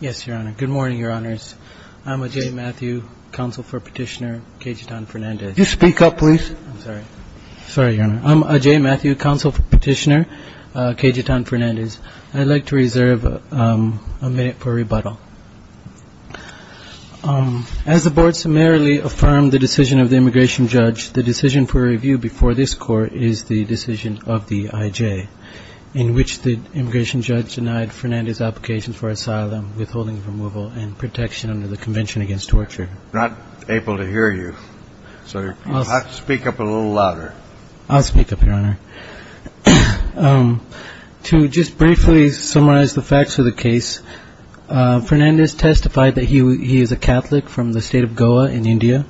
Yes, Your Honor. Good morning, Your Honors. I'm Ajay Matthew, counsel for Petitioner Kejitan Fernandes. You speak up, please. I'm sorry. Sorry, Your Honor. I'm Ajay Matthew, counsel for Petitioner Kejitan Fernandes. I'd like to reserve a minute for rebuttal. As the Board summarily affirmed the decision of the immigration judge, the decision for review before this Court is the decision of the IJ, in which the immigration judge denied Fernandes' application for asylum, withholding of removal, and protection under the Convention Against Torture. I'm not able to hear you, so you'll have to speak up a little louder. I'll speak up, Your Honor. To just briefly summarize the facts of the case, Fernandes testified that he is a Catholic from the state of Goa in India.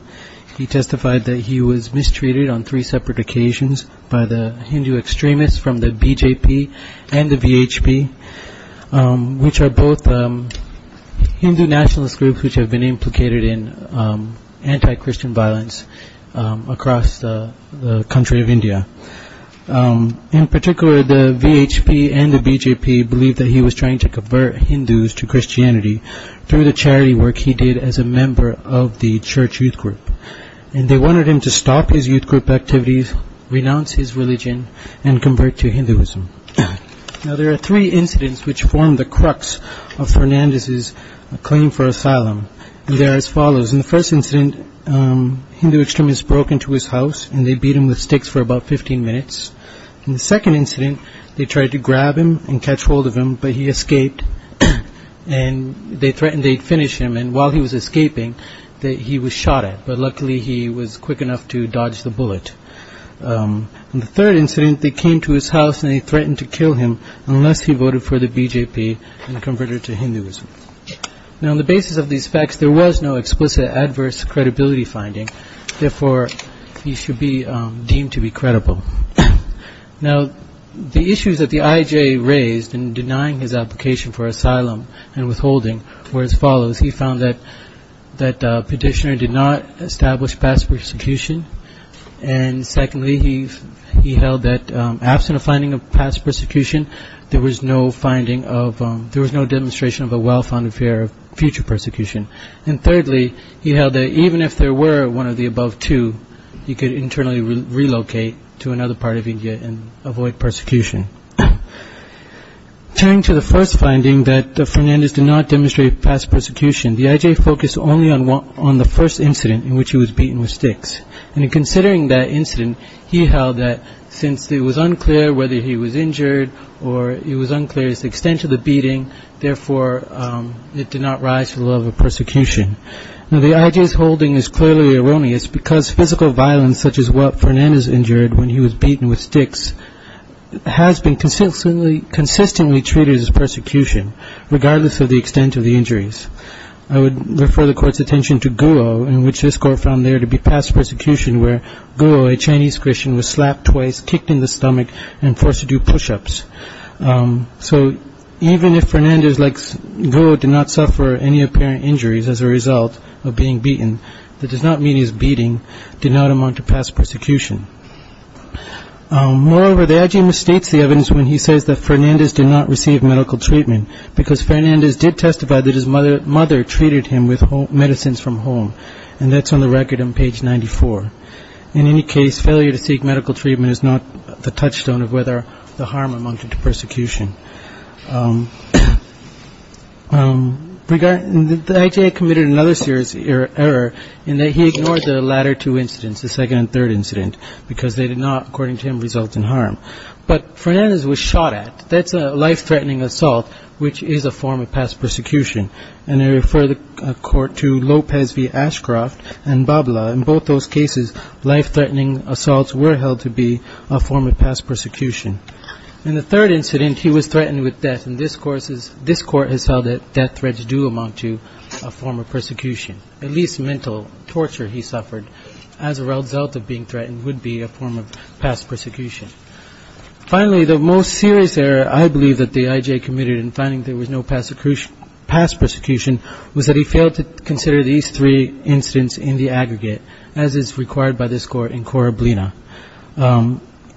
He testified that he was are both Hindu nationalist groups which have been implicated in anti-Christian violence across the country of India. In particular, the VHP and the BJP believe that he was trying to convert Hindus to Christianity through the charity work he did as a member of the church youth group. And they wanted him to stop his youth group activities, renounce his religion, and convert to Hinduism. Now, there are three incidents which form the crux of Fernandes' claim for asylum. They are as follows. In the first incident, Hindu extremists broke into his house and they beat him with sticks for about 15 minutes. In the second incident, they tried to grab him and catch hold of him, but he escaped. And they threatened they'd finish him. And while he was escaping, he was shot at, but luckily he was quick enough to dodge the bullet. In the third incident, they came to his house and they threatened to kill him unless he voted for the BJP and converted to Hinduism. Now, on the basis of these facts, there was no explicit adverse credibility finding. Therefore, he should be deemed to be credible. Now, the issues that the IJA raised in denying his application for asylum and withholding were as follows. He found that the petitioner did not establish past persecution. And secondly, he held that absent a finding of past persecution, there was no finding of, there was no demonstration of a well-founded fear of future persecution. And thirdly, he held that even if there were one of the above two, he could internally relocate to another part of India and avoid persecution. Turning to the first finding that Fernandez did not demonstrate past persecution, the IJA focused only on the first incident in which he was beaten with sticks. And in considering that incident, he held that since it was unclear whether he was injured or it was unclear his extent of the beating, therefore, it did not rise to the level of persecution. Now, the IJA's holding is clearly erroneous because physical violence such as what Fernandez injured when he was beaten with sticks has been consistently treated as persecution, regardless of the extent of the injuries. I would refer the Court's attention to Guo, in which this Court found there to be past persecution where Guo, a Chinese Christian, was slapped twice, kicked in the stomach, and forced to do push-ups. So even if Fernandez, like Guo, did not suffer any apparent injuries as a result of being beaten, that does not mean his beating did not amount to past persecution. Moreover, the IJA misstates the evidence when he says that Fernandez did not receive medical treatment because Fernandez did testify that his mother treated him with medicines from home, and that's on the record on page 94. In any case, failure to seek medical treatment is not the touchstone of whether the harm amounted to persecution. The IJA committed another serious error in that he ignored the latter two incidents, the second and third incident, because they did not, according to him, result in harm. But Fernandez was shot at. That's a life-threatening assault, which is a form of past persecution. And I refer the Court to Lopez v. Ashcroft and Babla. In both those cases, life-threatening assaults were held to be a form of past persecution. In the third incident, he was threatened with death, and this Court has held that death threats do amount to a form of persecution. At least mental torture he suffered as a result of being threatened would be a form of past persecution. Finally, the most serious error I believe that the IJA committed in finding there was no past persecution was that he failed to consider these three incidents in the aggregate, as is required by this Court in Corablina.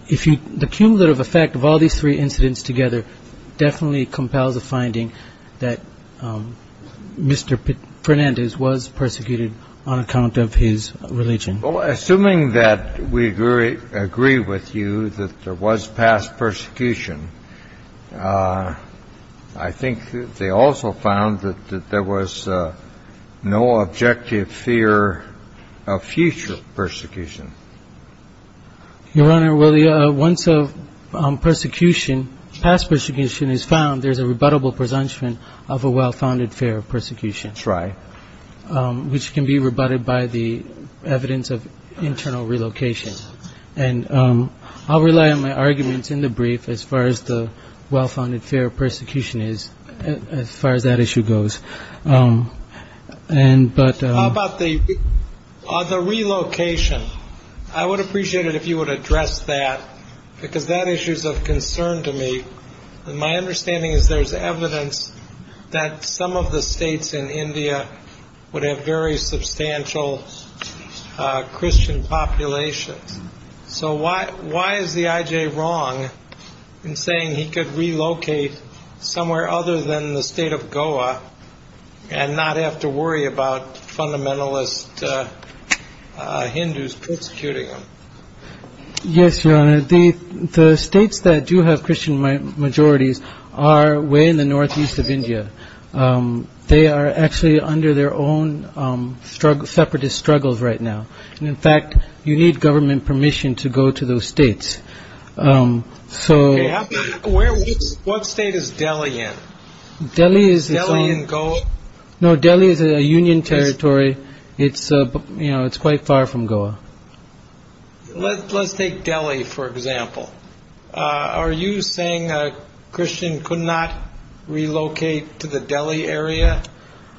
If you – the cumulative effect of all these three incidents together definitely compels a finding that Mr. Fernandez was persecuted on account of his religion. Well, assuming that we agree with you that there was past persecution, I think they also found that there was no objective fear of future persecution. Your Honor, well, once a persecution – past persecution is found, there's a rebuttable presumption of a well-founded fear of persecution, which can be rebutted by the evidence of internal relocation. And I'll rely on my arguments in the brief as far as the well-founded fear of persecution is, as far as that issue goes. How about the relocation? I would appreciate it if you would address that, because that issue is of concern to me. And my understanding is there's evidence that some of the states in India would have very substantial Christian populations. So why is the IJA wrong in saying he could relocate somewhere other than the state of Goa and not have to worry about fundamentalist Hindus persecuting him? Yes, Your Honor. The states that do have Christian majorities are way in the northeast of India. They are actually under their own separatist struggles right now. And in fact, you need government permission to go to those states. Okay. What state is Delhi in? Is Delhi in Goa? No, Delhi is a union territory. It's quite far from Goa. Let's take Delhi, for example. Are you saying a Christian could not relocate to the Delhi area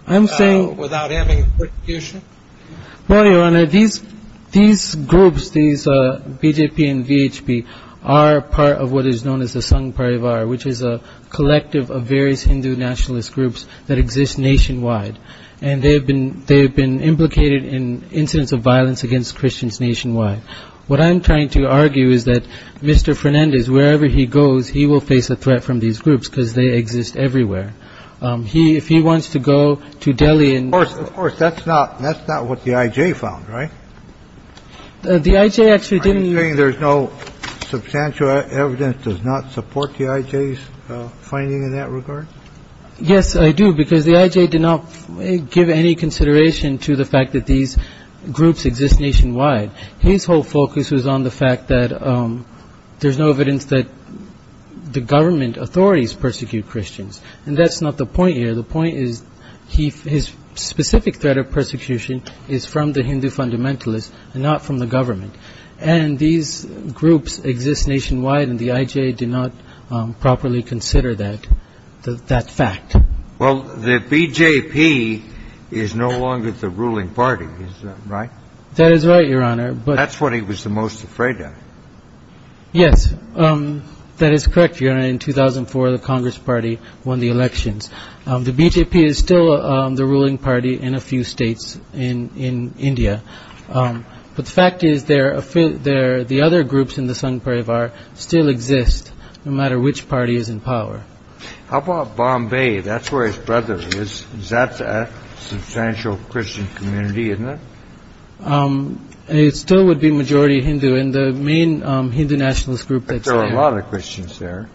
without having persecution? Well, Your Honor, these groups, these BJP and VHP, are part of what is known as the Sangh Parivar, which is a collective of various Hindu nationalist groups that exist nationwide. And they have been implicated in incidents of violence against Christians nationwide. What I'm trying to argue is that Mr. Fernandez, wherever he goes, he will face a threat from these groups, because they exist everywhere. If he wants to go to Delhi and... Of course, of course, that's not what the IJ found, right? The IJ actually didn't... Are you saying there's no substantial evidence does not support the IJ's finding in that regard? Yes, I do, because the IJ did not give any consideration to the fact that these groups exist nationwide. His whole focus was on the fact that there's no evidence that the government authorities persecute Christians. And that's not the point here. The point is his specific threat of persecution is from the Hindu fundamentalists and not from the government. And these groups exist nationwide, and the IJ did not properly consider that fact. Well, the BJP is no longer the ruling party, is that right? That is right, Your Honor, but... That's what he was the most afraid of. Yes, that is correct, Your Honor. In 2004, the Congress Party won the elections. The BJP is still the ruling party in a few states in India. But the fact is the other groups in the Sangh Parivar still exist, no matter which party is in power. How about Bombay? That's where his brother is. That's a substantial Christian community, isn't it? It still would be majority Hindu, and the main Hindu nationalist group that's there... But there are a lot of Christians there.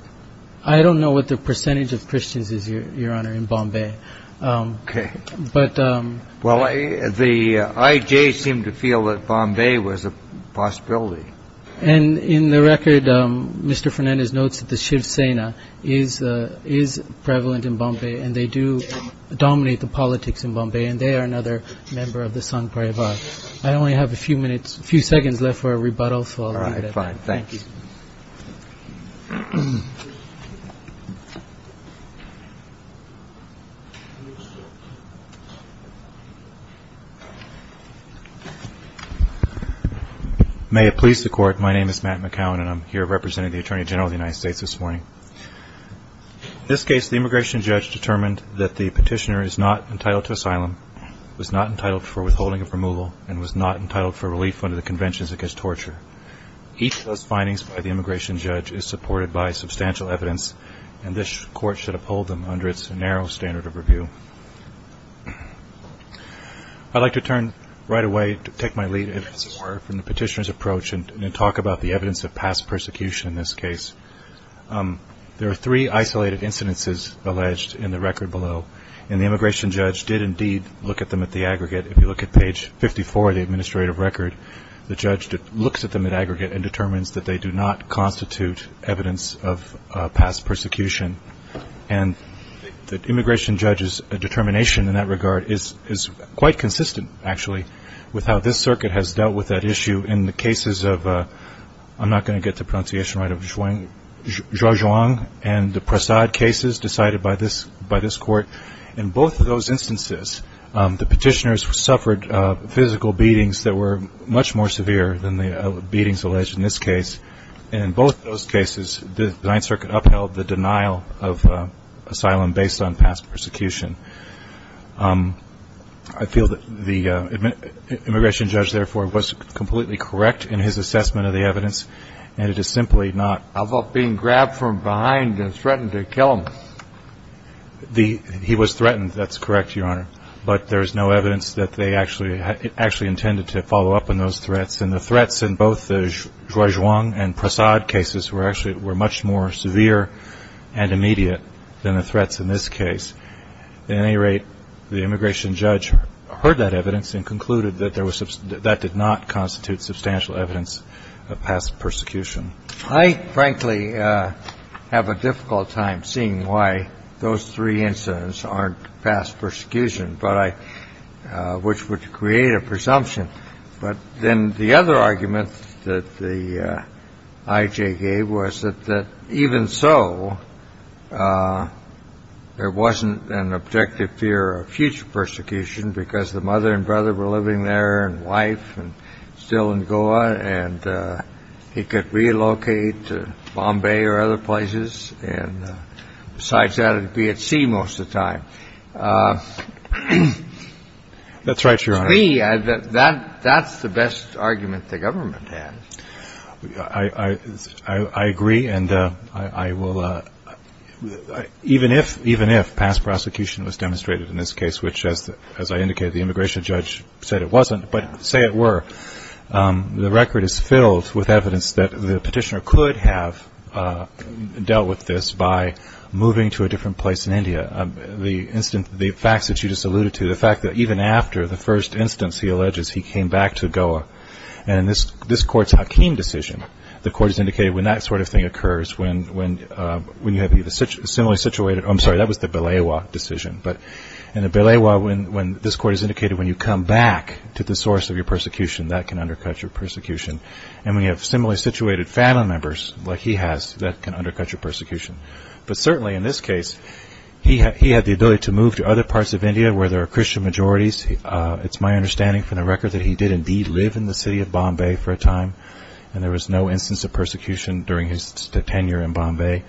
I don't know what the percentage of Christians is, Your Honor, in Bombay. Okay. But... Well, the IJ seemed to feel that Bombay was a possibility. And in the record, Mr. Fernandez notes that the Shiv Sena is prevalent in Bombay, and they do dominate the politics in Bombay, and they are another member of the Sangh Parivar. I only have a few minutes, a few seconds left for a rebuttal. All right, fine. Thank you. May it please the Court, my name is Matt McCowan, and I'm here representing the Attorney General of the United States this morning. In this case, the immigration judge determined that the petitioner is not entitled to asylum, was not entitled for withholding of removal, and was not entitled for relief under the Conventions Against Torture. Each of those findings by the immigration judge is supported by substantial evidence, and this Court should uphold them under its narrow standard of review. I'd like to turn right away to take my lead in some more from the petitioner's approach and talk about the evidence of past persecution in this case. There are three isolated incidences alleged in the record below, and the immigration judge did indeed look at them at the aggregate. If you look at page 54 of the administrative record, the judge looks at them at aggregate and determines that they do not constitute evidence of past persecution. And the immigration judge's determination in that regard is quite consistent, actually, with how this Circuit has dealt with that issue in the cases of, I'm not going to get the pronunciation right, of Zhuang and the Prasad cases decided by this Court. In both of those instances, the petitioners suffered physical beatings that were much more severe than the beatings alleged in this case. And in both of those cases, the Ninth Circuit upheld the denial of asylum based on past persecution. I feel that the immigration judge, therefore, was completely correct in his assessment of the evidence, and it is simply not. How about being grabbed from behind and threatened to kill him? He was threatened. That's correct, Your Honor. But there is no evidence that they actually intended to follow up on those threats. And the threats in both the Zhuang and Prasad cases were actually much more severe and immediate than the threats in this case. At any rate, the immigration judge heard that evidence and concluded that that did not constitute substantial evidence of past persecution. I, frankly, have a difficult time seeing why those three incidents aren't past persecution, which would create a presumption. But then the other argument that the IJ gave was that even so, there wasn't an objective fear of future persecution because the mother and brother were living there and wife and still in Goa, and he could relocate to Bombay or other places. And besides that, it would be at sea most of the time. That's right, Your Honor. I agree. That's the best argument the government has. I agree, and I will – even if past prosecution was demonstrated in this case, which, as I indicated, the immigration judge said it wasn't, but say it were, the record is filled with evidence that the petitioner could have dealt with this by moving to a different place in India. The facts that you just alluded to, the fact that even after the first instance, he alleges he came back to Goa, and in this Court's Hakeem decision, the Court has indicated when that sort of thing occurs, when you have a similarly situated – I'm sorry, that was the Belewa decision. But in the Belewa, this Court has indicated when you come back to the source of your persecution, that can undercut your persecution. And when you have similarly situated family members like he has, that can undercut your persecution. But certainly in this case, he had the ability to move to other parts of India where there are Christian majorities. It's my understanding from the record that he did indeed live in the city of Bombay for a time, and there was no instance of persecution during his tenure in Bombay.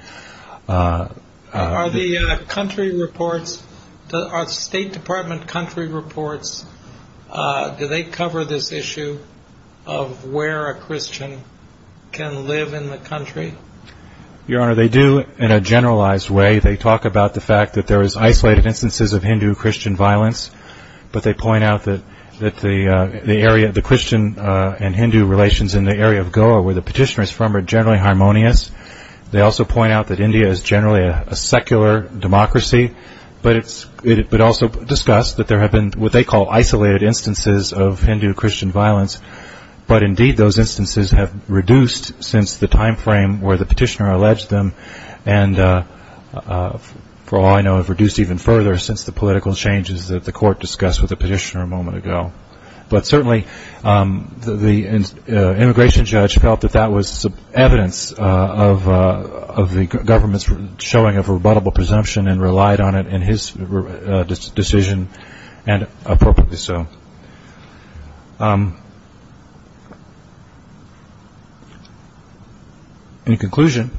Are the country reports – are State Department country reports – do they cover this issue of where a Christian can live in the country? Your Honor, they do in a generalized way. They talk about the fact that there is isolated instances of Hindu-Christian violence, but they point out that the Christian and Hindu relations in the area of Goa, where the petitioner is from, are generally harmonious. They also point out that India is generally a secular democracy, but also discuss that there have been what they call isolated instances of Hindu-Christian violence, but indeed those instances have reduced since the timeframe where the petitioner alleged them, and for all I know have reduced even further since the political changes that the court discussed with the petitioner a moment ago. But certainly the immigration judge felt that that was evidence of the government's showing of rebuttable presumption and relied on it in his decision, and appropriately so. In conclusion,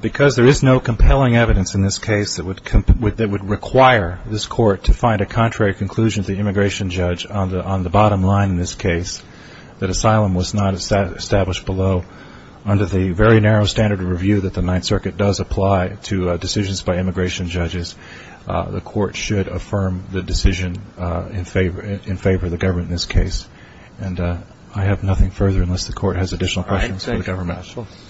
because there is no compelling evidence in this case that would require this court to find a contrary conclusion to the immigration judge on the bottom line in this case, that asylum was not established below, under the very narrow standard of review that the Ninth Circuit does apply to decisions by immigration judges, the court should affirm the decision in favor of the government in this case. And I have nothing further unless the court has additional questions for the government. All right. Thank you, counsel.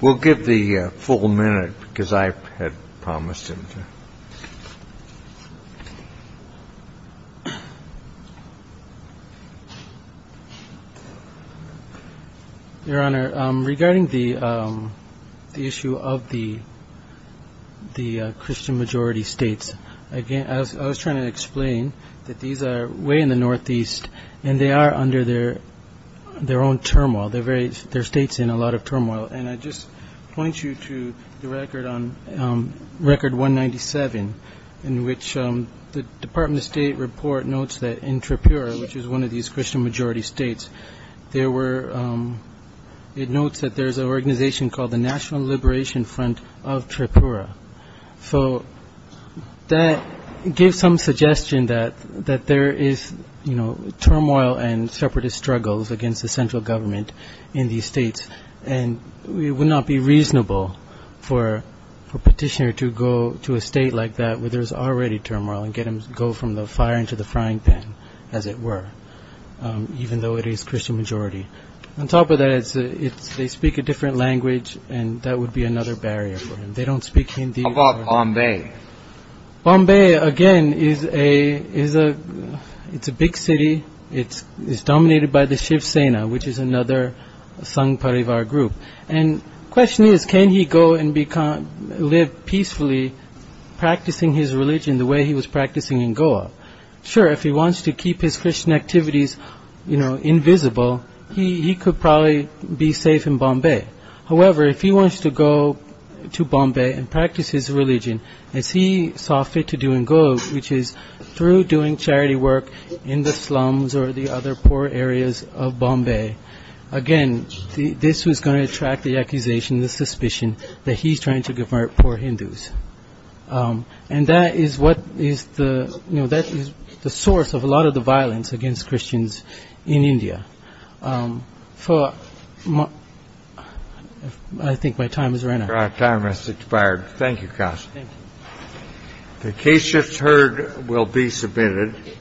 We'll give the full minute because I had promised him to. Your Honor, regarding the issue of the Christian-majority states, I was trying to explain that these are way in the northeast, and they are under their own turmoil. They're states in a lot of turmoil. And I just point you to the record on Record 197, in which the Department of State report notes that in Tripura, which is one of these Christian-majority states, it notes that there's an organization called the National Liberation Front of Tripura. So that gives some suggestion that there is turmoil and separatist struggles against the central government in these states. And it would not be reasonable for a petitioner to go to a state like that where there's already turmoil and get him to go from the fire into the frying pan, as it were, even though it is Christian-majority. On top of that, they speak a different language, and that would be another barrier for him. They don't speak Hindi. How about Bombay? Bombay, again, it's a big city. Bombay is dominated by the Shiv Sena, which is another Sangh Parivar group. And the question is, can he go and live peacefully, practicing his religion the way he was practicing in Goa? Sure, if he wants to keep his Christian activities invisible, he could probably be safe in Bombay. However, if he wants to go to Bombay and practice his religion as he saw fit to do in Goa, which is through doing charity work in the slums or the other poor areas of Bombay, again, this was going to attract the accusation, the suspicion, that he's trying to convert poor Hindus. And that is what is the source of a lot of the violence against Christians in India. I think my time has run out. The case just heard will be submitted.